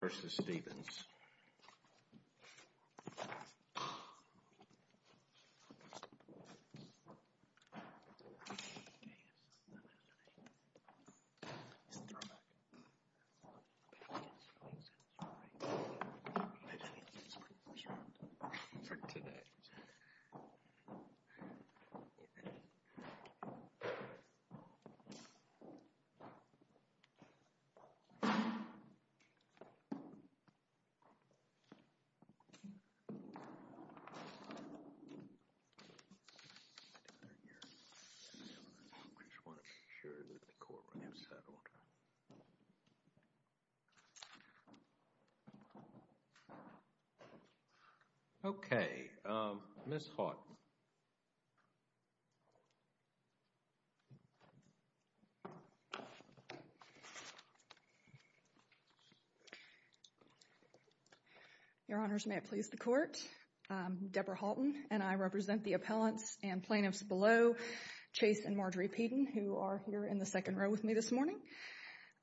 v. Stephens. I just want to make sure that the court room is settled. Okay, Ms. Haughton. Your Honors, may it please the court, Deborah Haughton and I represent the appellants and plaintiffs below, Chase and Marjorie Peden, who are here in the second row with me this morning.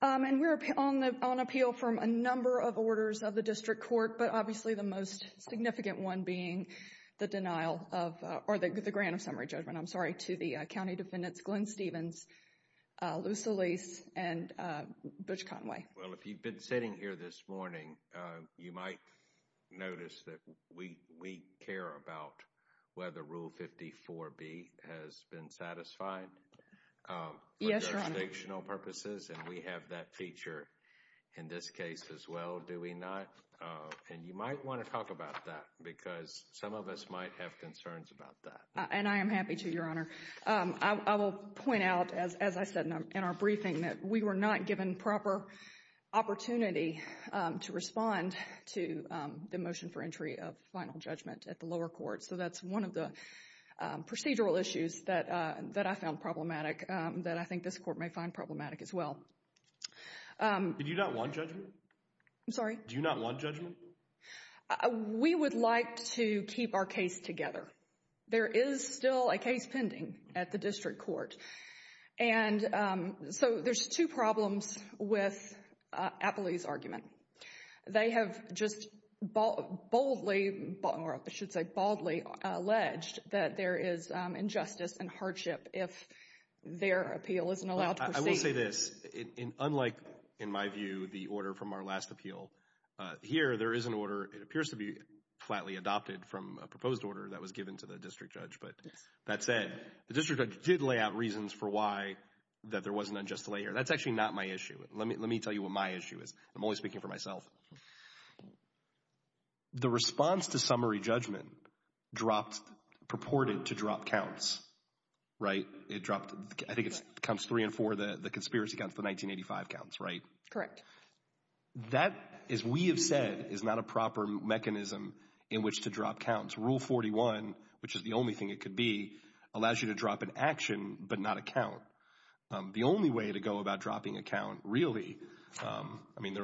And we're on appeal from a number of orders of the district court, but obviously the most the grand of summary judgment. I'm sorry. To the county defendants, Glenn Stephens, Luce Elise, and Butch Conway. Well, if you've been sitting here this morning, you might notice that we care about whether Rule 54B has been satisfied for jurisdictional purposes. Yes, Your Honor. And we have that feature in this case as well, do we not? And you might want to talk about that, because some of us might have concerns about that. And I am happy to, Your Honor. I will point out, as I said in our briefing, that we were not given proper opportunity to respond to the motion for entry of final judgment at the lower court. So that's one of the procedural issues that I found problematic, that I think this court may find problematic as well. Did you not want judgment? I'm sorry? Do you not want judgment? We would like to keep our case together. There is still a case pending at the district court. And so there's two problems with Appley's argument. They have just boldly, or I should say baldly, alleged that there is injustice and hardship if their appeal isn't allowed to proceed. I will say this. Unlike, in my view, the order from our last appeal, here there is an order, it appears to be flatly adopted from a proposed order that was given to the district judge. But that said, the district judge did lay out reasons for why that there was an unjust lay here. That's actually not my issue. Let me tell you what my issue is. I'm only speaking for myself. The response to summary judgment dropped, purported to drop counts, right? It dropped, I think it's counts three and four, the conspiracy counts, the 1985 counts, right? Correct. That, as we have said, is not a proper mechanism in which to drop counts. Rule 41, which is the only thing it could be, allows you to drop an action, but not a count. The only way to go about dropping a count, really, I mean,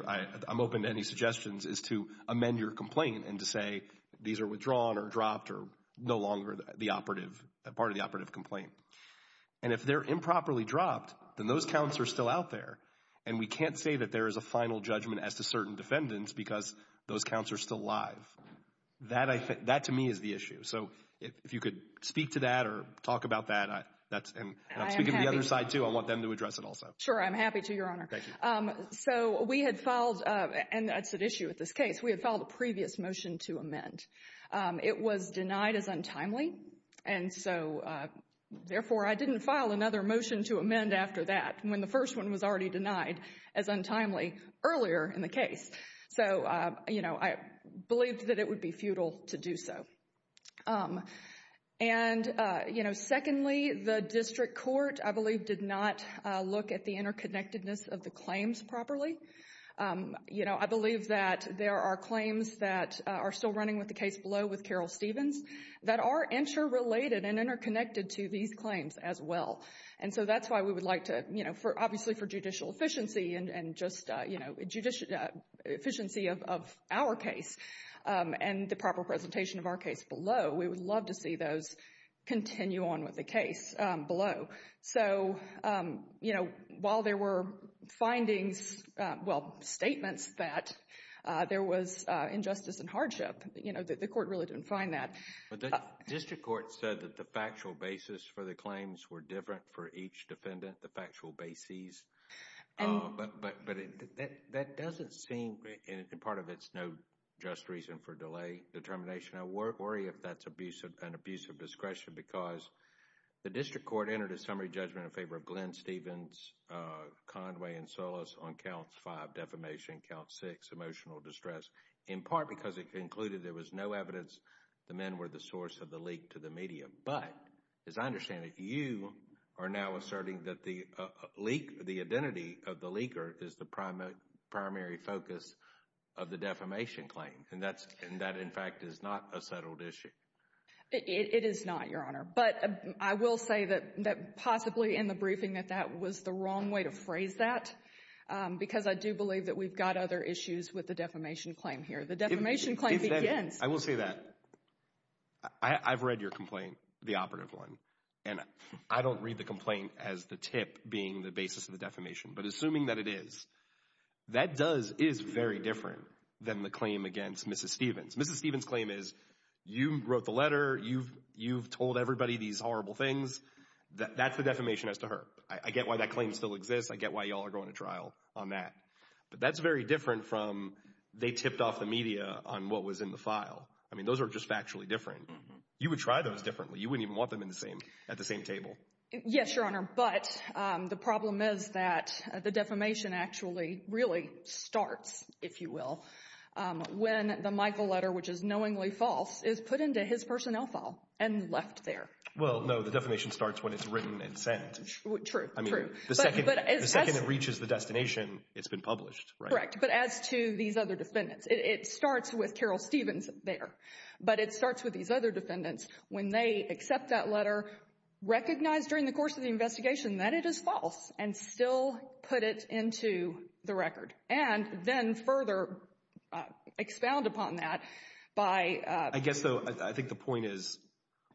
I'm open to any suggestions, is to amend your complaint and to say these are withdrawn or dropped or no longer the operative, part of the operative complaint. And if they're improperly dropped, then those counts are still out there. And we can't say that there is a final judgment as to certain defendants because those counts are still live. That, I think, that to me is the issue. So if you could speak to that or talk about that, that's, and I'm speaking to the other side too. I want them to address it also. Sure. I'm happy to, Your Honor. Thank you. So we had filed, and that's an issue with this case, we had filed a previous motion to amend. It was denied as untimely. And so, therefore, I didn't file another motion to amend after that, when the first one was already denied as untimely earlier in the case. So, you know, I believed that it would be futile to do so. And you know, secondly, the district court, I believe, did not look at the interconnectedness of the claims properly. You know, I believe that there are claims that are still running with the case below with Carol Stevens that are interrelated and interconnected to these claims as well. And so that's why we would like to, you know, obviously for judicial efficiency and just, you know, efficiency of our case and the proper presentation of our case below, we would love to see those continue on with the case below. So, you know, while there were findings, well, statements that there was injustice and hardship, you know, the court really didn't find that. But the district court said that the factual basis for the claims were different for each defendant, the factual basis. But that doesn't seem, and part of it's no just reason for delay determination. I worry if that's an abuse of discretion because the district court entered a summary judgment in favor of Glenn Stevens, Conway, and Solis on counts five, defamation, count six, emotional distress, in part because it concluded there was no evidence the men were the source of the leak to the media. But as I understand it, you are now asserting that the leak, the identity of the leaker is the primary focus of the defamation claim. And that, in fact, is not a settled issue. It is not, Your Honor, but I will say that possibly in the briefing that that was the wrong way to phrase that because I do believe that we've got other issues with the defamation claim here. The defamation claim begins. I will say that. I've read your complaint, the operative one, and I don't read the complaint as the tip being the basis of the defamation. But assuming that it is, that does, is very different than the claim against Mrs. Stevens. Mrs. Stevens' claim is, you wrote the letter, you've told everybody these horrible things. That's the defamation as to her. I get why that claim still exists. I get why y'all are going to trial on that. But that's very different from they tipped off the media on what was in the file. I mean, those are just factually different. You would try those differently. You wouldn't even want them at the same table. Yes, Your Honor, but the problem is that the defamation actually really starts, if you will, when the Michael letter, which is knowingly false, is put into his personnel file and left there. Well, no, the defamation starts when it's written and sent. True, true. I mean, the second it reaches the destination, it's been published, right? Correct. But as to these other defendants, it starts with Carol Stevens there. But it starts with these other defendants when they accept that letter, recognize during the course of the investigation that it is false, and still put it into the record. And then further expound upon that by- I guess, though, I think the point is,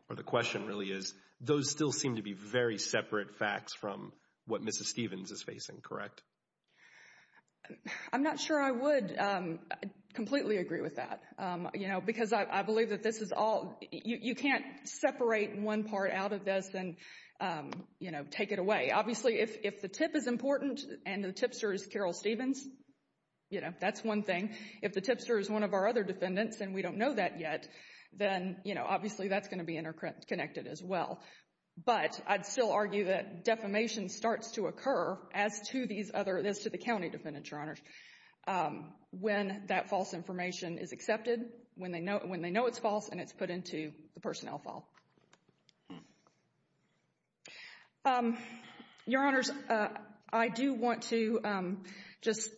or the question really is, those still seem to be very separate facts from what Mrs. Stevens is facing, correct? I'm not sure I would completely agree with that, you know, because I believe that this is all, you can't separate one part out of this and, you know, take it away. Obviously, if the tip is important and the tipster is Carol Stevens, you know, that's one thing. If the tipster is one of our other defendants and we don't know that yet, then, you know, obviously that's going to be interconnected as well. But I'd still argue that defamation starts to occur as to these other, as to the county defendants, Your Honors, when that false information is accepted, when they know it's false, and it's put into the personnel file. Your Honors, I do want to just,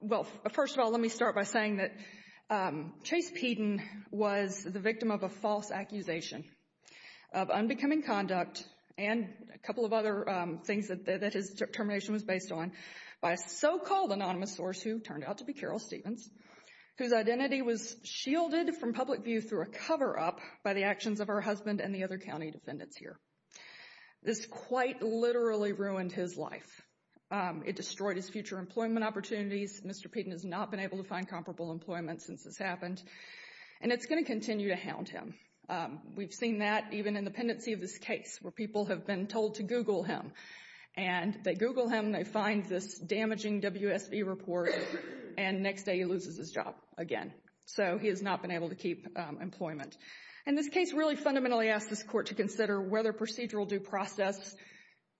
well, first of all, let me start by saying that Chase did not become inconduct and a couple of other things that his termination was based on by a so-called anonymous source who turned out to be Carol Stevens, whose identity was shielded from public view through a cover-up by the actions of her husband and the other county defendants here. This quite literally ruined his life. It destroyed his future employment opportunities. Mr. Peden has not been able to find comparable employment since this happened. And it's going to continue to hound him. We've seen that even in the pendency of this case where people have been told to Google him and they Google him and they find this damaging WSV report and next day he loses his job again. So he has not been able to keep employment. And this case really fundamentally asks this Court to consider whether procedural due process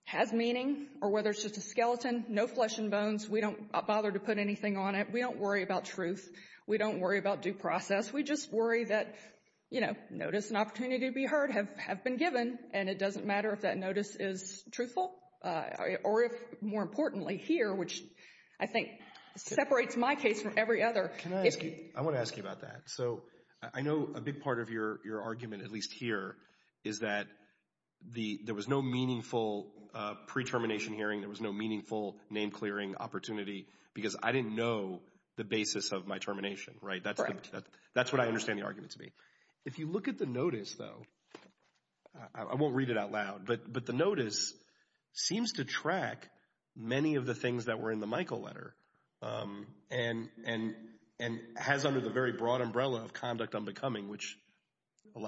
has meaning or whether it's just a skeleton, no flesh and bones. We don't bother to put anything on it. We don't worry about truth. We don't worry about due process. We just worry that, you know, notice and opportunity to be heard have been given and it doesn't matter if that notice is truthful or if, more importantly, here, which I think separates my case from every other. I want to ask you about that. So I know a big part of your argument, at least here, is that there was no meaningful pre-termination hearing, there was no meaningful name-clearing opportunity because I didn't know the basis of my termination, right? Correct. That's what I understand the argument to be. If you look at the notice, though, I won't read it out loud, but the notice seems to track many of the things that were in the Michael letter and has under the very broad umbrella of conduct unbecoming, which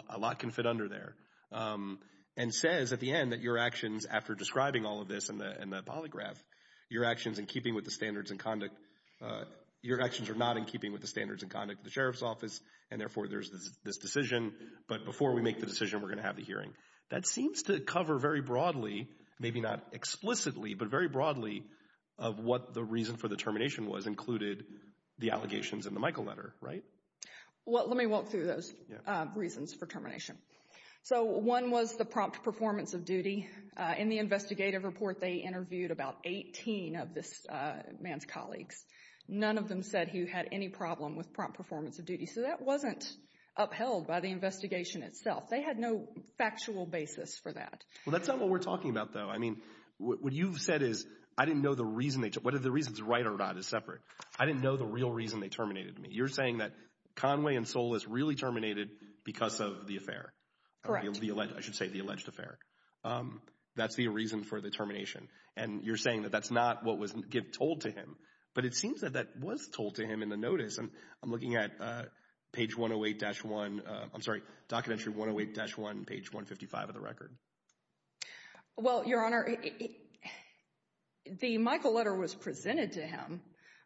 a lot can fit under there, and says at the end that your actions after describing all of this in the polygraph, your actions in keeping with the standards and conduct, your actions are not in keeping with the standards and conduct of the Sheriff's Office and therefore there's this decision, but before we make the decision we're going to have the hearing. That seems to cover very broadly, maybe not explicitly, but very broadly of what the reason for the termination was included the allegations in the Michael letter, right? Well, let me walk through those reasons for termination. So one was the prompt performance of duty. In the investigative report, they interviewed about 18 of this man's colleagues. None of them said he had any problem with prompt performance of duty, so that wasn't upheld by the investigation itself. They had no factual basis for that. Well, that's not what we're talking about, though. I mean, what you've said is, I didn't know the reason they, whether the reason's right or not is separate. I didn't know the real reason they terminated me. You're saying that Conway and Solis really terminated because of the affair. Correct. I should say the alleged affair. That's the reason for the termination, and you're saying that that's not what was told to him, but it seems that that was told to him in the notice, and I'm looking at page 108-1, I'm sorry, documentary 108-1, page 155 of the record. Well, Your Honor, the Michael letter was presented to him,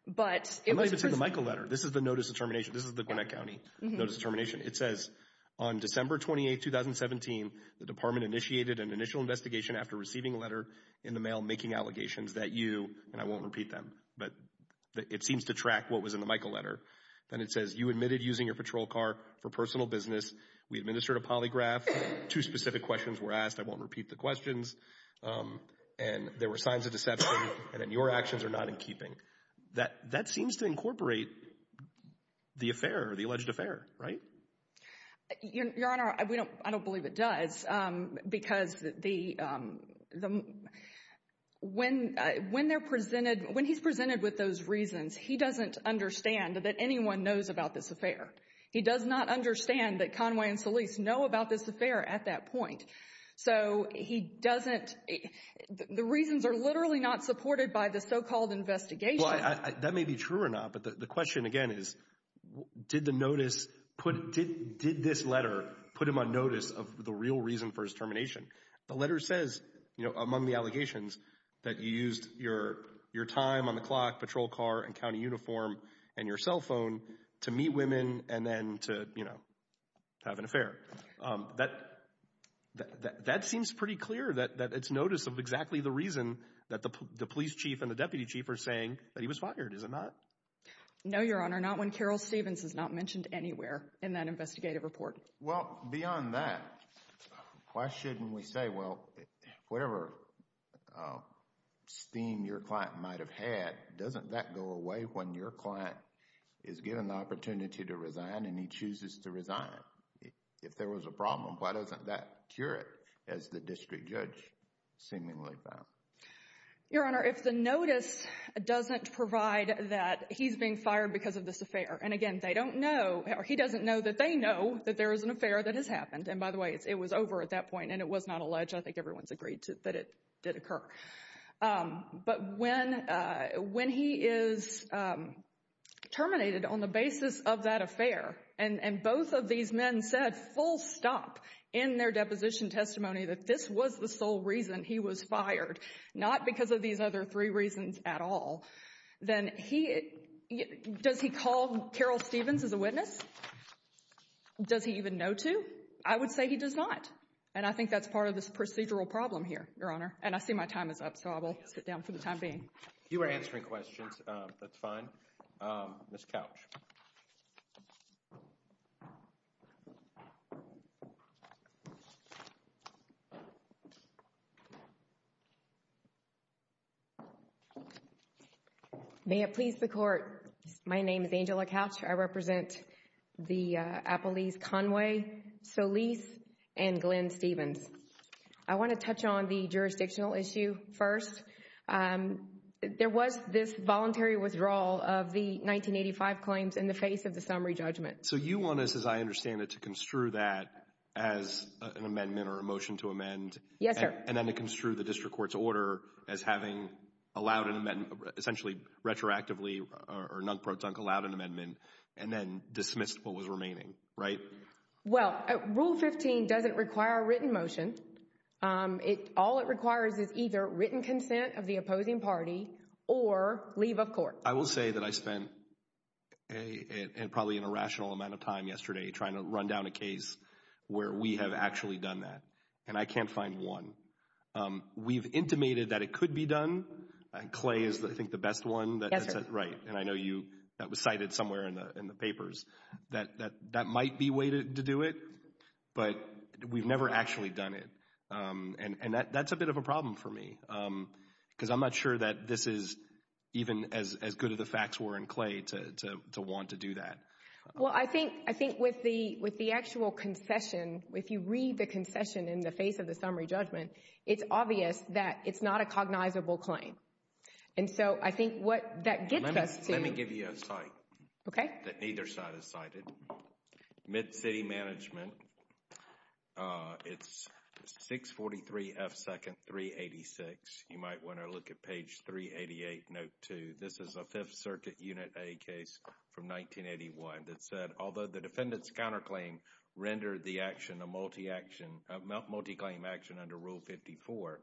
but it was presented. I'm not even talking about the Michael letter. This is the notice of termination. This is the Gwinnett County notice of termination. It says, on December 28, 2017, the department initiated an initial investigation after receiving a letter in the mail making allegations that you, and I won't repeat them, but it seems to track what was in the Michael letter. Then it says, you admitted using your patrol car for personal business. We administered a polygraph. Two specific questions were asked. I won't repeat the questions, and there were signs of deception, and then your actions are not in keeping. That seems to incorporate the affair, the alleged affair, right? Your Honor, I don't believe it does, because when they're presented, when he's presented with those reasons, he doesn't understand that anyone knows about this affair. He does not understand that Conway and Solis know about this affair at that point, so he Well, that may be true or not, but the question again is, did the notice, did this letter put him on notice of the real reason for his termination? The letter says, you know, among the allegations, that you used your time on the clock, patrol car, and county uniform, and your cell phone to meet women and then to, you know, have an affair. That seems pretty clear that it's notice of exactly the reason that the police chief and that he was fired, is it not? No, Your Honor, not when Carol Stevens is not mentioned anywhere in that investigative report. Well, beyond that, why shouldn't we say, well, whatever steam your client might have had, doesn't that go away when your client is given the opportunity to resign, and he chooses to resign? If there was a problem, why doesn't that cure it, as the district judge seemingly found? Your Honor, if the notice doesn't provide that he's being fired because of this affair, and again, they don't know, he doesn't know that they know that there is an affair that has happened, and by the way, it was over at that point, and it was not alleged, I think everyone's agreed that it did occur, but when he is terminated on the basis of that affair, and both of these men said full stop in their deposition testimony that this was the sole reason he was fired, not because of these other three reasons at all, then he, does he call Carol Stevens as a witness? Does he even know to? I would say he does not, and I think that's part of this procedural problem here, Your Honor, and I see my time is up, so I will sit down for the time being. You were answering questions, that's fine. Ms. Couch. May it please the Court, my name is Angela Couch, I represent the Appalese Conway, Solis, and Glenn Stevens. I want to touch on the jurisdictional issue first. There was this voluntary withdrawal of the 1985 claims in the face of the summary judgment. So you want us, as I understand it, to construe that as an amendment or a motion to amend? Yes, sir. And then to construe the district court's order as having allowed an amendment, essentially retroactively or nunk-pro-dunk allowed an amendment, and then dismissed what was remaining, right? Well, Rule 15 doesn't require a written motion. All it requires is either written consent of the opposing party or leave of court. I will say that I spent probably an irrational amount of time yesterday trying to run down a case where we have actually done that, and I can't find one. We've intimated that it could be done, Clay is, I think, the best one, right, and I know you, that was cited somewhere in the papers, that that might be a way to do it, but we've never actually done it, and that's a bit of a problem for me, because I'm not sure that this is even as good of the facts were in Clay to want to do that. Well, I think with the actual concession, if you read the concession in the face of the summary judgment, it's obvious that it's not a cognizable claim. And so I think what that gets us to... Mid-City Management, it's 643 F. 2nd 386. You might want to look at page 388, note 2. This is a Fifth Circuit Unit A case from 1981 that said, although the defendant's counterclaim rendered the action a multi-claim action under Rule 54,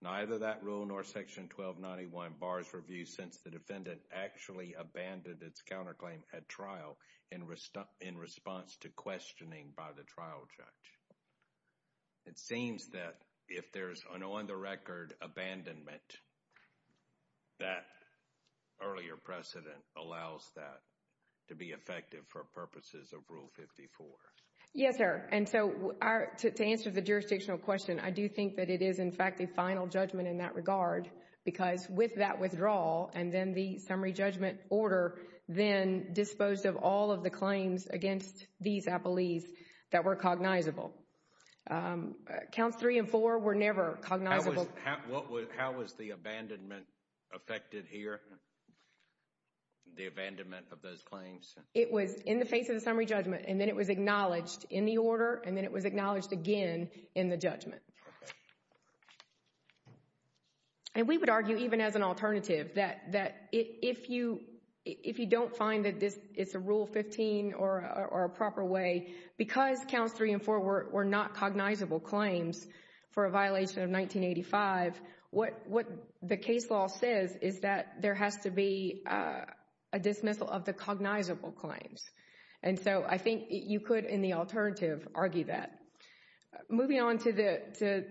neither that rule nor Section 1291 bars review since the defendant actually abandoned its counterclaim at trial in response to questioning by the trial judge. It seems that if there's an on-the-record abandonment, that earlier precedent allows that to be effective for purposes of Rule 54. Yes, sir. And so to answer the jurisdictional question, I do think that it is, in fact, a final judgment in that regard because with that withdrawal and then the summary judgment order then disposed of all of the claims against these appellees that were cognizable. Counts 3 and 4 were never cognizable. How was the abandonment affected here? The abandonment of those claims? It was in the face of the summary judgment, and then it was acknowledged in the order, and then it was acknowledged again in the judgment. And we would argue, even as an alternative, that if you don't find that it's a Rule 15 or a proper way, because Counts 3 and 4 were not cognizable claims for a violation of 1985, what the case law says is that there has to be a dismissal of the cognizable claims. And so I think you could, in the alternative, argue that. Moving on to the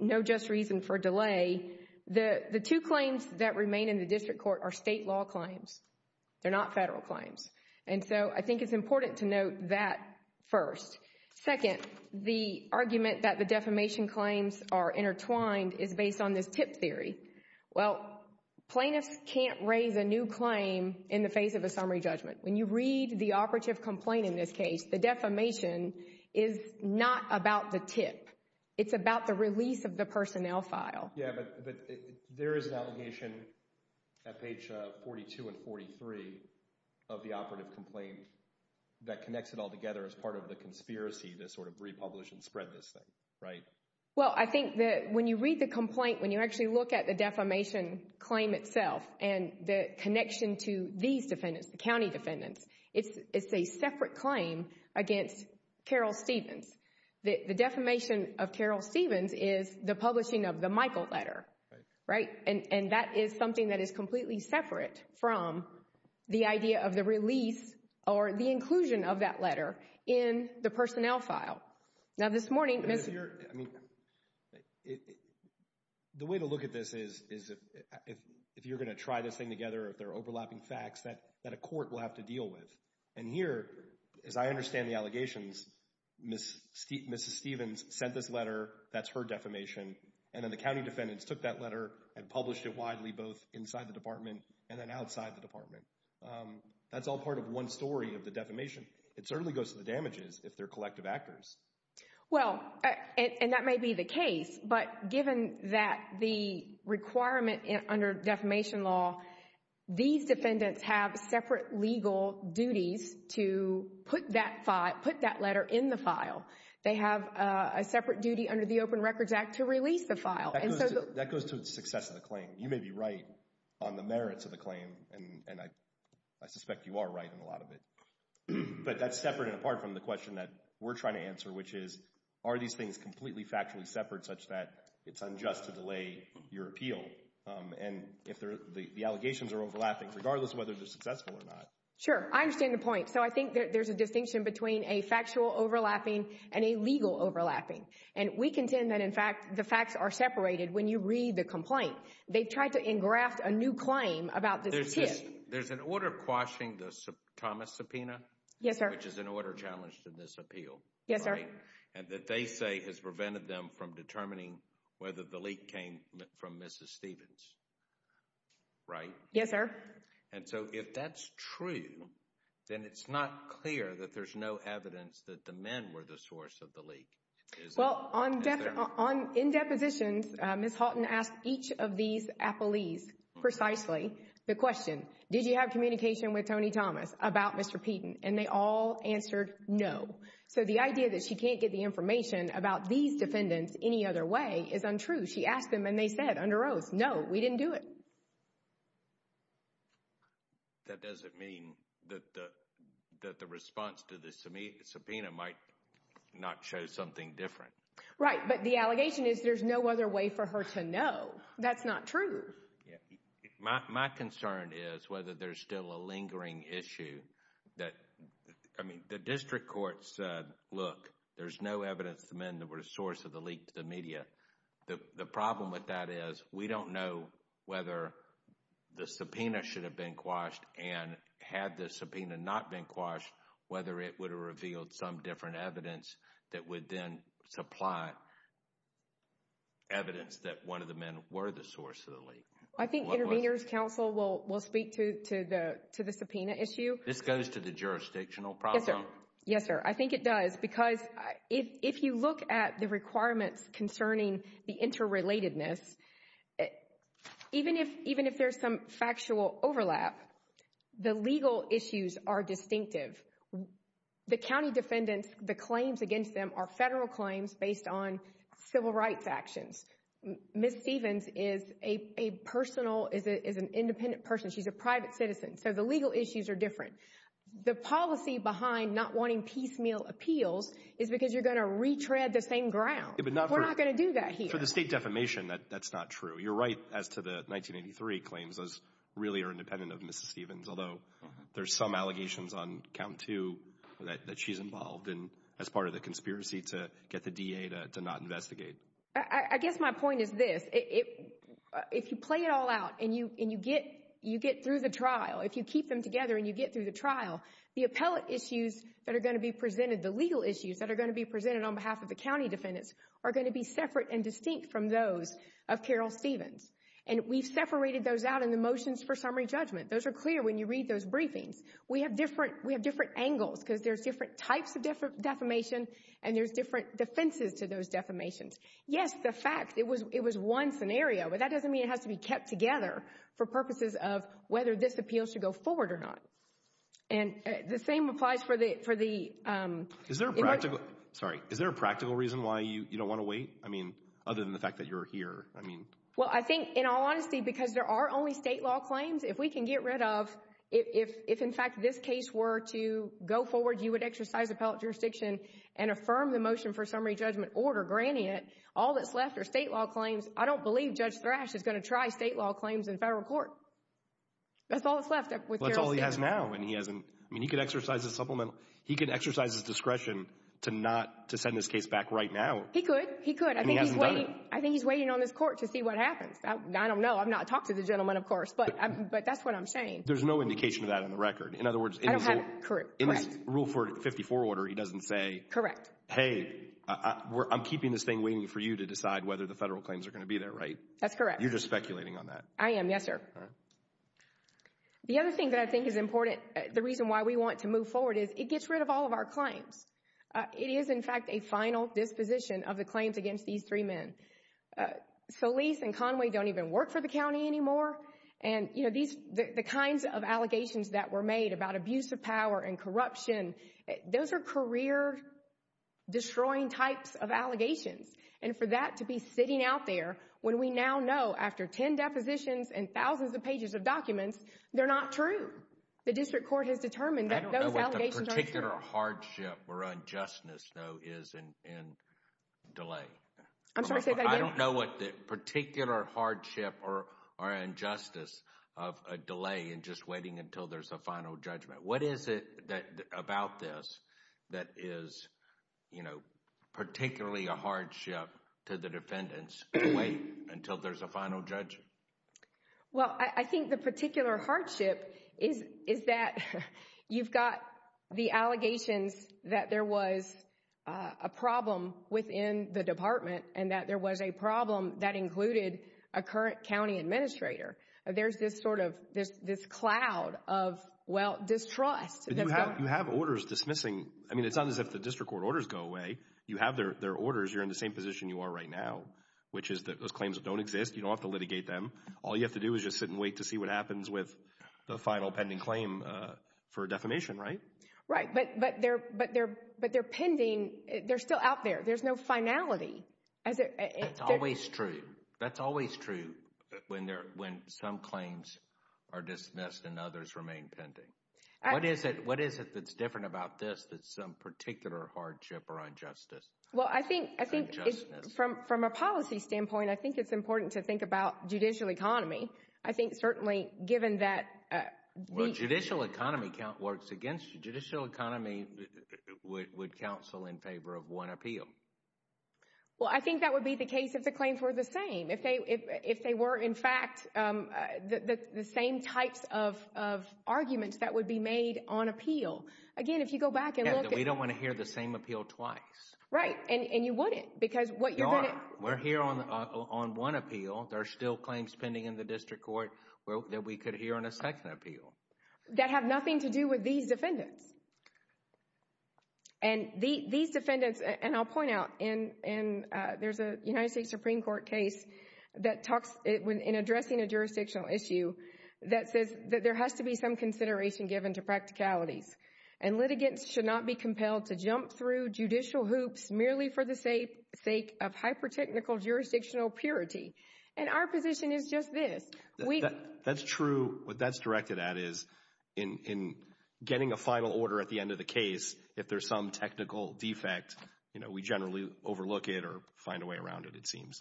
no just reason for delay, the two claims that remain in the district court are state law claims. They're not federal claims. And so I think it's important to note that first. Second, the argument that the defamation claims are intertwined is based on this tip theory. Well, plaintiffs can't raise a new claim in the face of a summary judgment. When you read the operative complaint in this case, the defamation is not about the tip. It's about the release of the personnel file. Yeah, but there is an allegation at page 42 and 43 of the operative complaint that connects it all together as part of the conspiracy to sort of republish and spread this thing, right? Well, I think that when you read the complaint, when you actually look at the defamation claim itself and the connection to these defendants, the county defendants, it's a separate claim against Carol Stevens. The defamation of Carol Stevens is the publishing of the Michael letter, right? And that is something that is completely separate from the idea of the release or the inclusion of that letter in the personnel file. Now, this morning, Ms. I mean, the way to look at this is if you're going to try this thing together, there are overlapping facts that a court will have to deal with. And here, as I understand the allegations, Mrs. Stevens sent this letter, that's her defamation, and then the county defendants took that letter and published it widely both inside the department and then outside the department. That's all part of one story of the defamation. It certainly goes to the damages if they're collective actors. Well, and that may be the case, but given that the requirement under defamation law, these defendants have separate legal duties to put that letter in the file. They have a separate duty under the Open Records Act to release the file. That goes to the success of the claim. You may be right on the merits of the claim, and I suspect you are right in a lot of it. But that's separate and apart from the question that we're trying to answer, which is, are these things completely factually separate such that it's unjust to delay your appeal, and if the allegations are overlapping, regardless of whether they're successful or not? Sure. I understand the point. So I think there's a distinction between a factual overlapping and a legal overlapping. And we contend that, in fact, the facts are separated when you read the complaint. They've tried to engraft a new claim about this tip. There's an order quashing the Thomas subpoena. Yes, sir. Which is an order challenged in this appeal. Yes, sir. And that they say has prevented them from determining whether the leak came from Mrs. Stevens, right? Yes, sir. And so if that's true, then it's not clear that there's no evidence that the men were the source of the leak, is it? Well, in depositions, Ms. Halton asked each of these appellees precisely the question, did you have communication with Tony Thomas about Mr. Peden? And they all answered no. So the idea that she can't get the information about these defendants any other way is untrue. She asked them and they said under oath, no, we didn't do it. That doesn't mean that the response to the subpoena might not show something different. Right, but the allegation is there's no other way for her to know. That's not true. My concern is whether there's still a lingering issue that, I mean, the district court said, look, there's no evidence the men that were the source of the leak to the media. The problem with that is we don't know whether the subpoena should have been quashed and had the subpoena not been quashed, whether it would have revealed some different evidence that would then supply evidence that one of the men were the source of the leak. I think Intervenors Council will speak to the subpoena issue. This goes to the jurisdictional problem? Yes, sir. I think it does because if you look at the requirements concerning the interrelatedness, even if there's some factual overlap, the legal issues are distinctive. The county defendants, the claims against them are federal claims based on civil rights actions. Ms. Stevens is a personal, is an independent person. She's a private citizen. So the legal issues are different. The policy behind not wanting piecemeal appeals is because you're going to retread the same ground. We're not going to do that here. For the state defamation, that's not true. You're right as to the 1983 claims, those really are independent of Ms. Stevens, although there's some allegations on count two that she's involved in as part of the conspiracy to get the DA to not investigate. I guess my point is this. If you play it all out and you get through the trial, if you keep them together and you get through the trial, the appellate issues that are going to be presented, the legal issues that are going to be presented on behalf of the county defendants are going to be separate and distinct from those of Carol Stevens. And we've separated those out in the motions for summary judgment. Those are clear when you read those briefings. We have different angles because there's different types of defamation and there's different defenses to those defamations. Yes, the fact, it was one scenario, but that doesn't mean it has to be kept together for purposes of whether this appeal should go forward or not. And the same applies for the... Sorry. Is there a practical reason why you don't want to wait? I mean, other than the fact that you're here. I mean... Well, I think in all honesty, because there are only state law claims, if we can get rid of, if in fact this case were to go forward, you would exercise appellate jurisdiction and affirm the motion for summary judgment order, granting it. All that's left are state law claims. I don't believe Judge Thrash is going to try state law claims in federal court. That's all that's left with Carol Stevens. That's all he has now and he hasn't... I mean, he could exercise his supplemental... He could exercise his discretion to not to send this case back right now. He could. He could. I think he's waiting on this court to see what happens. I don't know. I've not talked to the gentleman, of course, but that's what I'm saying. There's no indication of that on the record. In other words, in his rule for 54 order, he doesn't say... Correct. Hey, I'm keeping this thing waiting for you to decide whether the federal claims are going to be there, right? That's correct. You're just speculating on that. I am. Yes, sir. The other thing that I think is important, the reason why we want to move forward is it gets rid of all of our claims. It is, in fact, a final disposition of the claims against these three men. Solis and Conway don't even work for the county anymore. And, you know, the kinds of allegations that were made about abuse of power and corruption, those are career-destroying types of allegations. And for that to be sitting out there, when we now know, after 10 depositions and thousands of pages of documents, they're not true. The district court has determined that those allegations aren't true. I don't know what the particular hardship or unjustness, though, is in delay. I'm sorry, say that again. I don't know what the particular hardship or injustice of a delay in just waiting until there's a final judgment. What is it about this that is, you know, particularly a hardship to the defendants to wait until there's a final judgment? Well, I think the particular hardship is that you've got the allegations that there was a problem within the department and that there was a problem that included a current county administrator. There's this sort of this cloud of, well, distrust. You have orders dismissing. I mean, it's not as if the district court orders go away. You have their orders. You're in the same position you are right now, which is that those claims don't exist. You don't have to litigate them. All you have to do is just sit and wait to see what happens with the final pending claim for defamation, right? Right, but they're pending. They're still out there. There's no finality. That's always true. That's always true when some claims are dismissed and others remain pending. What is it that's different about this that's some particular hardship or injustice? Well, I think from a policy standpoint, I think it's important to think about judicial economy. I think certainly given that... Well, judicial economy works against you. Judicial economy would counsel in favor of one appeal. Well, I think that would be the case if the claims were the same. If they were, in fact, the same types of arguments that would be made on appeal. Again, if you go back and look at... We don't want to hear the same appeal twice. Right, and you wouldn't because what you're going to... We're here on one appeal. There are still claims pending in the district court that we could hear on a second appeal. That have nothing to do with these defendants. And these defendants... And I'll point out, there's a United States Supreme Court case that talks in addressing a jurisdictional issue that says that there has to be some consideration given to practicalities. And litigants should not be compelled to jump through judicial hoops merely for the sake of hyper-technical jurisdictional purity. And our position is just this. That's true. What that's directed at is in getting a final order at the end of the case, if there's some technical defect, we generally overlook it or find a way around it, it seems.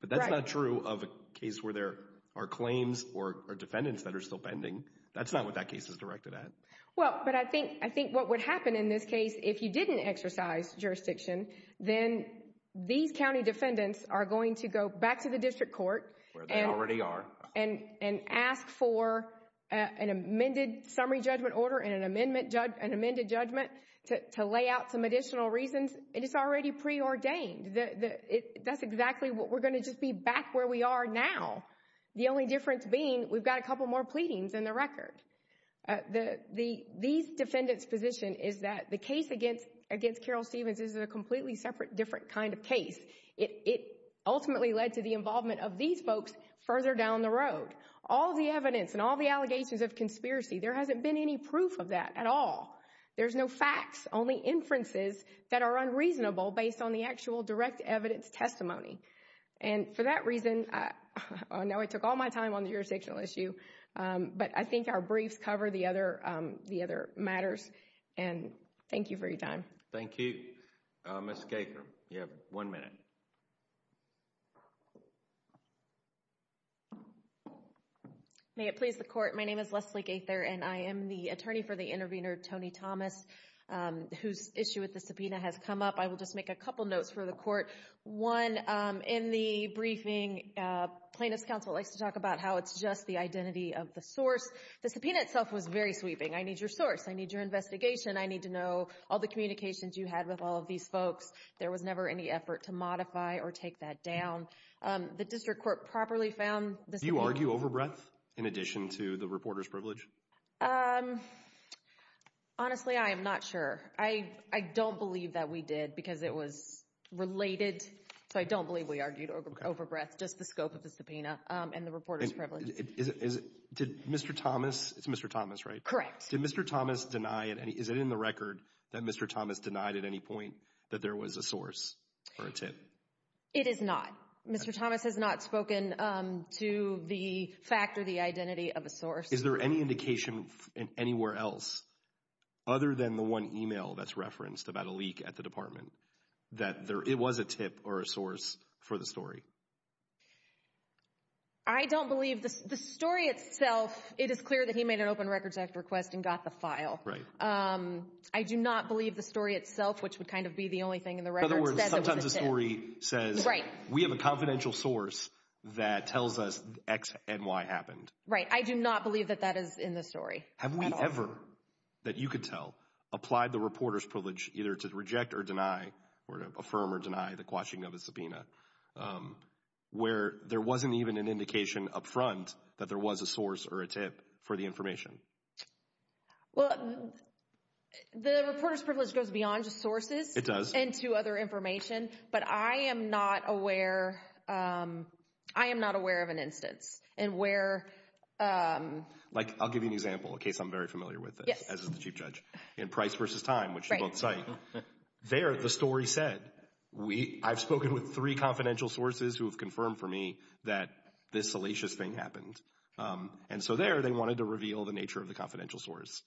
But that's not true of a case where there are claims or defendants that are still pending. That's not what that case is directed at. Well, but I think what would happen in this case if you didn't exercise jurisdiction, then these county defendants are going to go back to the district court... Where they already are. And ask for an amended summary judgment order and amended judgment to lay out some additional reasons. And it's already preordained. That's exactly what... We're going to just be back where we are now. The only difference being, we've got a couple more pleadings in the record. These defendants' position is that the case against against Carol Stevens is a completely separate, different kind of case. It ultimately led to the involvement of these folks further down the road. All the evidence and all the allegations of conspiracy, there hasn't been any proof of that at all. There's no facts, only inferences that are unreasonable based on the actual direct evidence testimony. And for that reason, now I took all my time on the jurisdictional issue, but I think our briefs cover the other matters. And thank you for your time. Thank you. Ms. Gaker, you have one minute. May it please the court. My name is Leslie Gaker, and I am the attorney for the intervener, Tony Thomas, whose issue with the subpoena has come up. I will just make a couple notes for the court. One, in the briefing, plaintiff's counsel likes to talk about how it's just the identity of the source. The subpoena itself was very sweeping. I need your source. I need your investigation. I need to know all the communications you had with all of these folks. There was never any effort to modify or take that down. The district court properly found... Do you argue overbreadth in addition to the reporter's privilege? Honestly, I am not sure. I don't believe that we did because it was related. So I don't believe we argued overbreadth, just the scope of the subpoena and the reporter's privilege. Did Mr. Thomas... It's Mr. Thomas, right? Correct. Did Mr. Thomas deny it? Is it in the record that Mr. Thomas denied at any point that there was a source or a tip? It is not. Mr. Thomas has not spoken to the fact or the identity of a source. Is there any indication anywhere else, other than the one email that's referenced about a leak at the department, that it was a tip or a source for the story? I don't believe... The story itself, it is clear that he made an Open Records Act request and got the file. Right. I do not believe the story itself, which would kind of be the only thing in the record, says it was a tip. In other words, sometimes a story says... Right. We have a confidential source that tells us X and Y happened. Right. I do not believe that that is in the story. Have we ever, that you could tell, applied the reporter's privilege either to reject or deny, or to affirm or deny the quashing of a subpoena, where there wasn't even an indication up front that there was a source or a tip for the information? Well, the reporter's privilege goes beyond just sources... It does. ...and to other information, but I am not aware of an instance in where... Like, I'll give you an example, a case I'm very familiar with, as is the Chief Judge, in Price versus Time, which they both cite. There, the story said, I've spoken with three confidential sources who have confirmed for me that this salacious thing happened. And so there, they wanted to reveal the nature of the confidential source.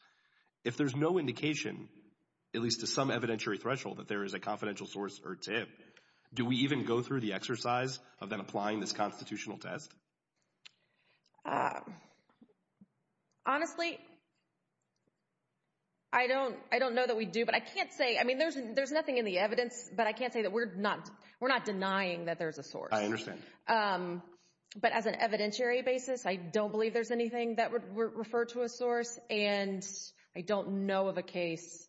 If there's no indication, at least to some evidentiary threshold, that there is a confidential source or tip, do we even go through the exercise of then applying this constitutional test? Honestly, I don't know that we do, but I can't say... I mean, there's nothing in the evidence, but I can't say that we're not denying that there's a source. I understand. But as an evidentiary basis, I don't believe there's anything that would refer to a source, and I don't know of a case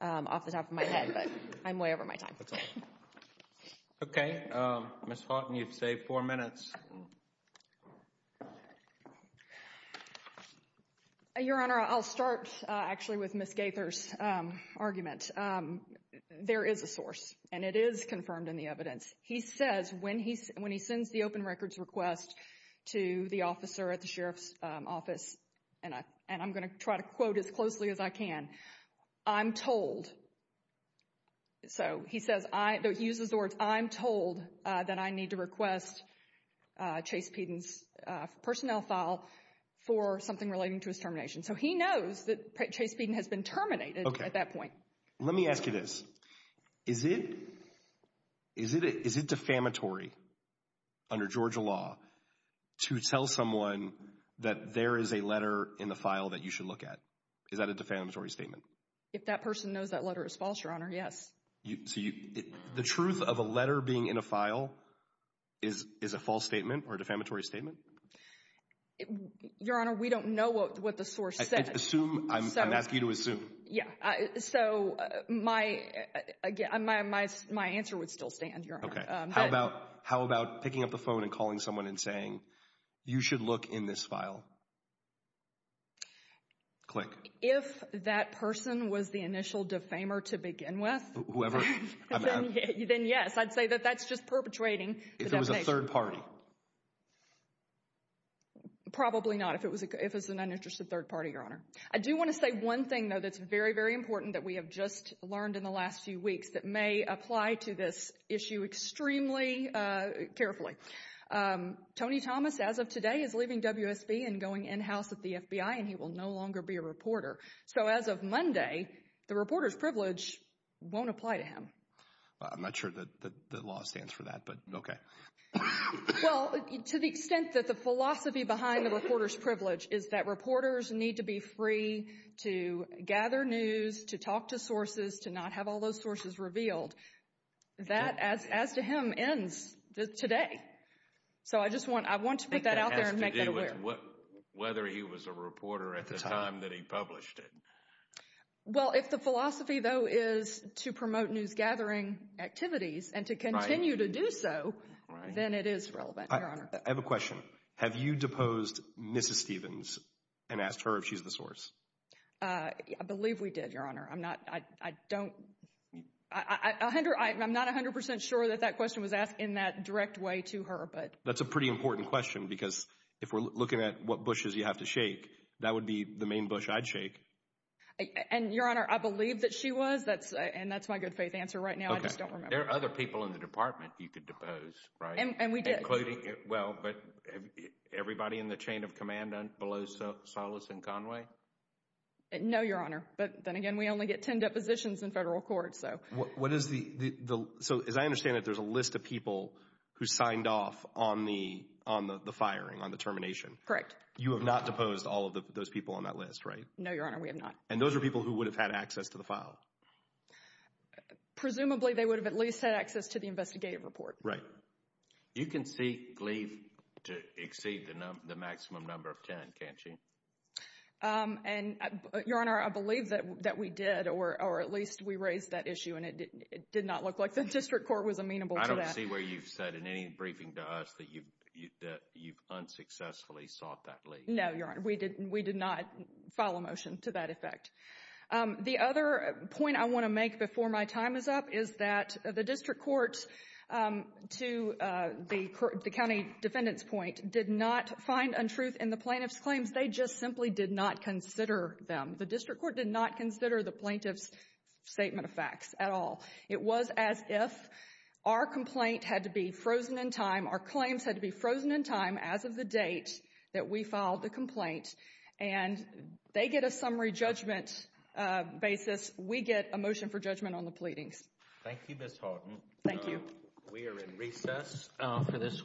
off the top of my head. I'm way over my time. Okay, Ms. Hawton, you've saved four minutes. Your Honor, I'll start, actually, with Ms. Gaither's argument. There is a source, and it is confirmed in the evidence. He says, when he sends the open records request to the officer at the Sheriff's office, and I'm going to try to quote as closely as I can, I'm told, so he says, though he uses the words, I'm told that I need to request Chase Peden's personnel file for something relating to his termination. So he knows that Chase Peden has been terminated at that point. Let me ask you this. Is it defamatory under Georgia law to tell someone that there is a letter in the file that you should look at? Is that a defamatory statement? If that person knows that letter is false, Your Honor, yes. The truth of a letter being in a file is a false statement or a defamatory statement? Your Honor, we don't know what the source said. I'm asking you to assume. Yeah, so my answer would still stand, Your Honor. How about picking up the phone and calling someone and saying, you should look in this file? Click. If that person was the initial defamer to begin with. Whoever, I'm asking. Then yes, I'd say that that's just perpetrating the defamation. If it was a third party? Probably not, if it was an uninterested third party, Your Honor. I do want to say one thing, though, that's very, very important that we have just learned in the last few weeks that may apply to this issue extremely carefully. Tony Thomas, as of today, is leaving WSB and going in-house at the FBI, and he will no longer be a reporter. So as of Monday, the reporter's privilege won't apply to him. I'm not sure that the law stands for that, but okay. Well, to the extent that the philosophy behind the reporter's privilege is that reporters need to be free to gather news, to talk to sources, to not have all those sources revealed. That, as to him, ends today. So I just want, I want to put that out there and make that aware. Whether he was a reporter at the time that he published it. Well, if the philosophy, though, is to promote news gathering activities and to continue to do so, then it is relevant, Your Honor. I have a question. Have you deposed Mrs. Stevens and asked her if she's the source? I believe we did, Your Honor. I'm not, I don't, I'm not 100% sure that that question was asked in that direct way to her, but. That's a pretty important question, because if we're looking at what bushes you have to shake, that would be the main bush I'd shake. And, Your Honor, I believe that she was. That's, and that's my good faith answer right now. I just don't remember. There are other people in the department you could depose, right? And we did. Including, well, but everybody in the chain of command below Solis and Conway? No, Your Honor. But then again, we only get 10 depositions in federal court, so. What is the, so as I understand it, there's a list of people who signed off on the, on the firing, on the termination? Correct. You have not deposed all of those people on that list, right? No, Your Honor, we have not. And those are people who would have had access to the file? Presumably, they would have at least had access to the investigative report. Right. You can seek leave to exceed the maximum number of 10, can't you? And, Your Honor, I believe that we did, or at least we raised that issue, and it did not look like the district court was amenable to that. I see where you've said in any briefing to us that you've, that you've unsuccessfully sought that leave. No, Your Honor, we did, we did not file a motion to that effect. The other point I want to make before my time is up is that the district court, to the county defendant's point, did not find untruth in the plaintiff's claims. They just simply did not consider them. The district court did not consider the plaintiff's statement of facts at all. It was as if our complaint had to be frozen in time, our claims had to be frozen in time as of the date that we filed the complaint, and they get a summary judgment basis, we get a motion for judgment on the pleadings. Thank you, Ms. Horton. Thank you. We are in recess for this week.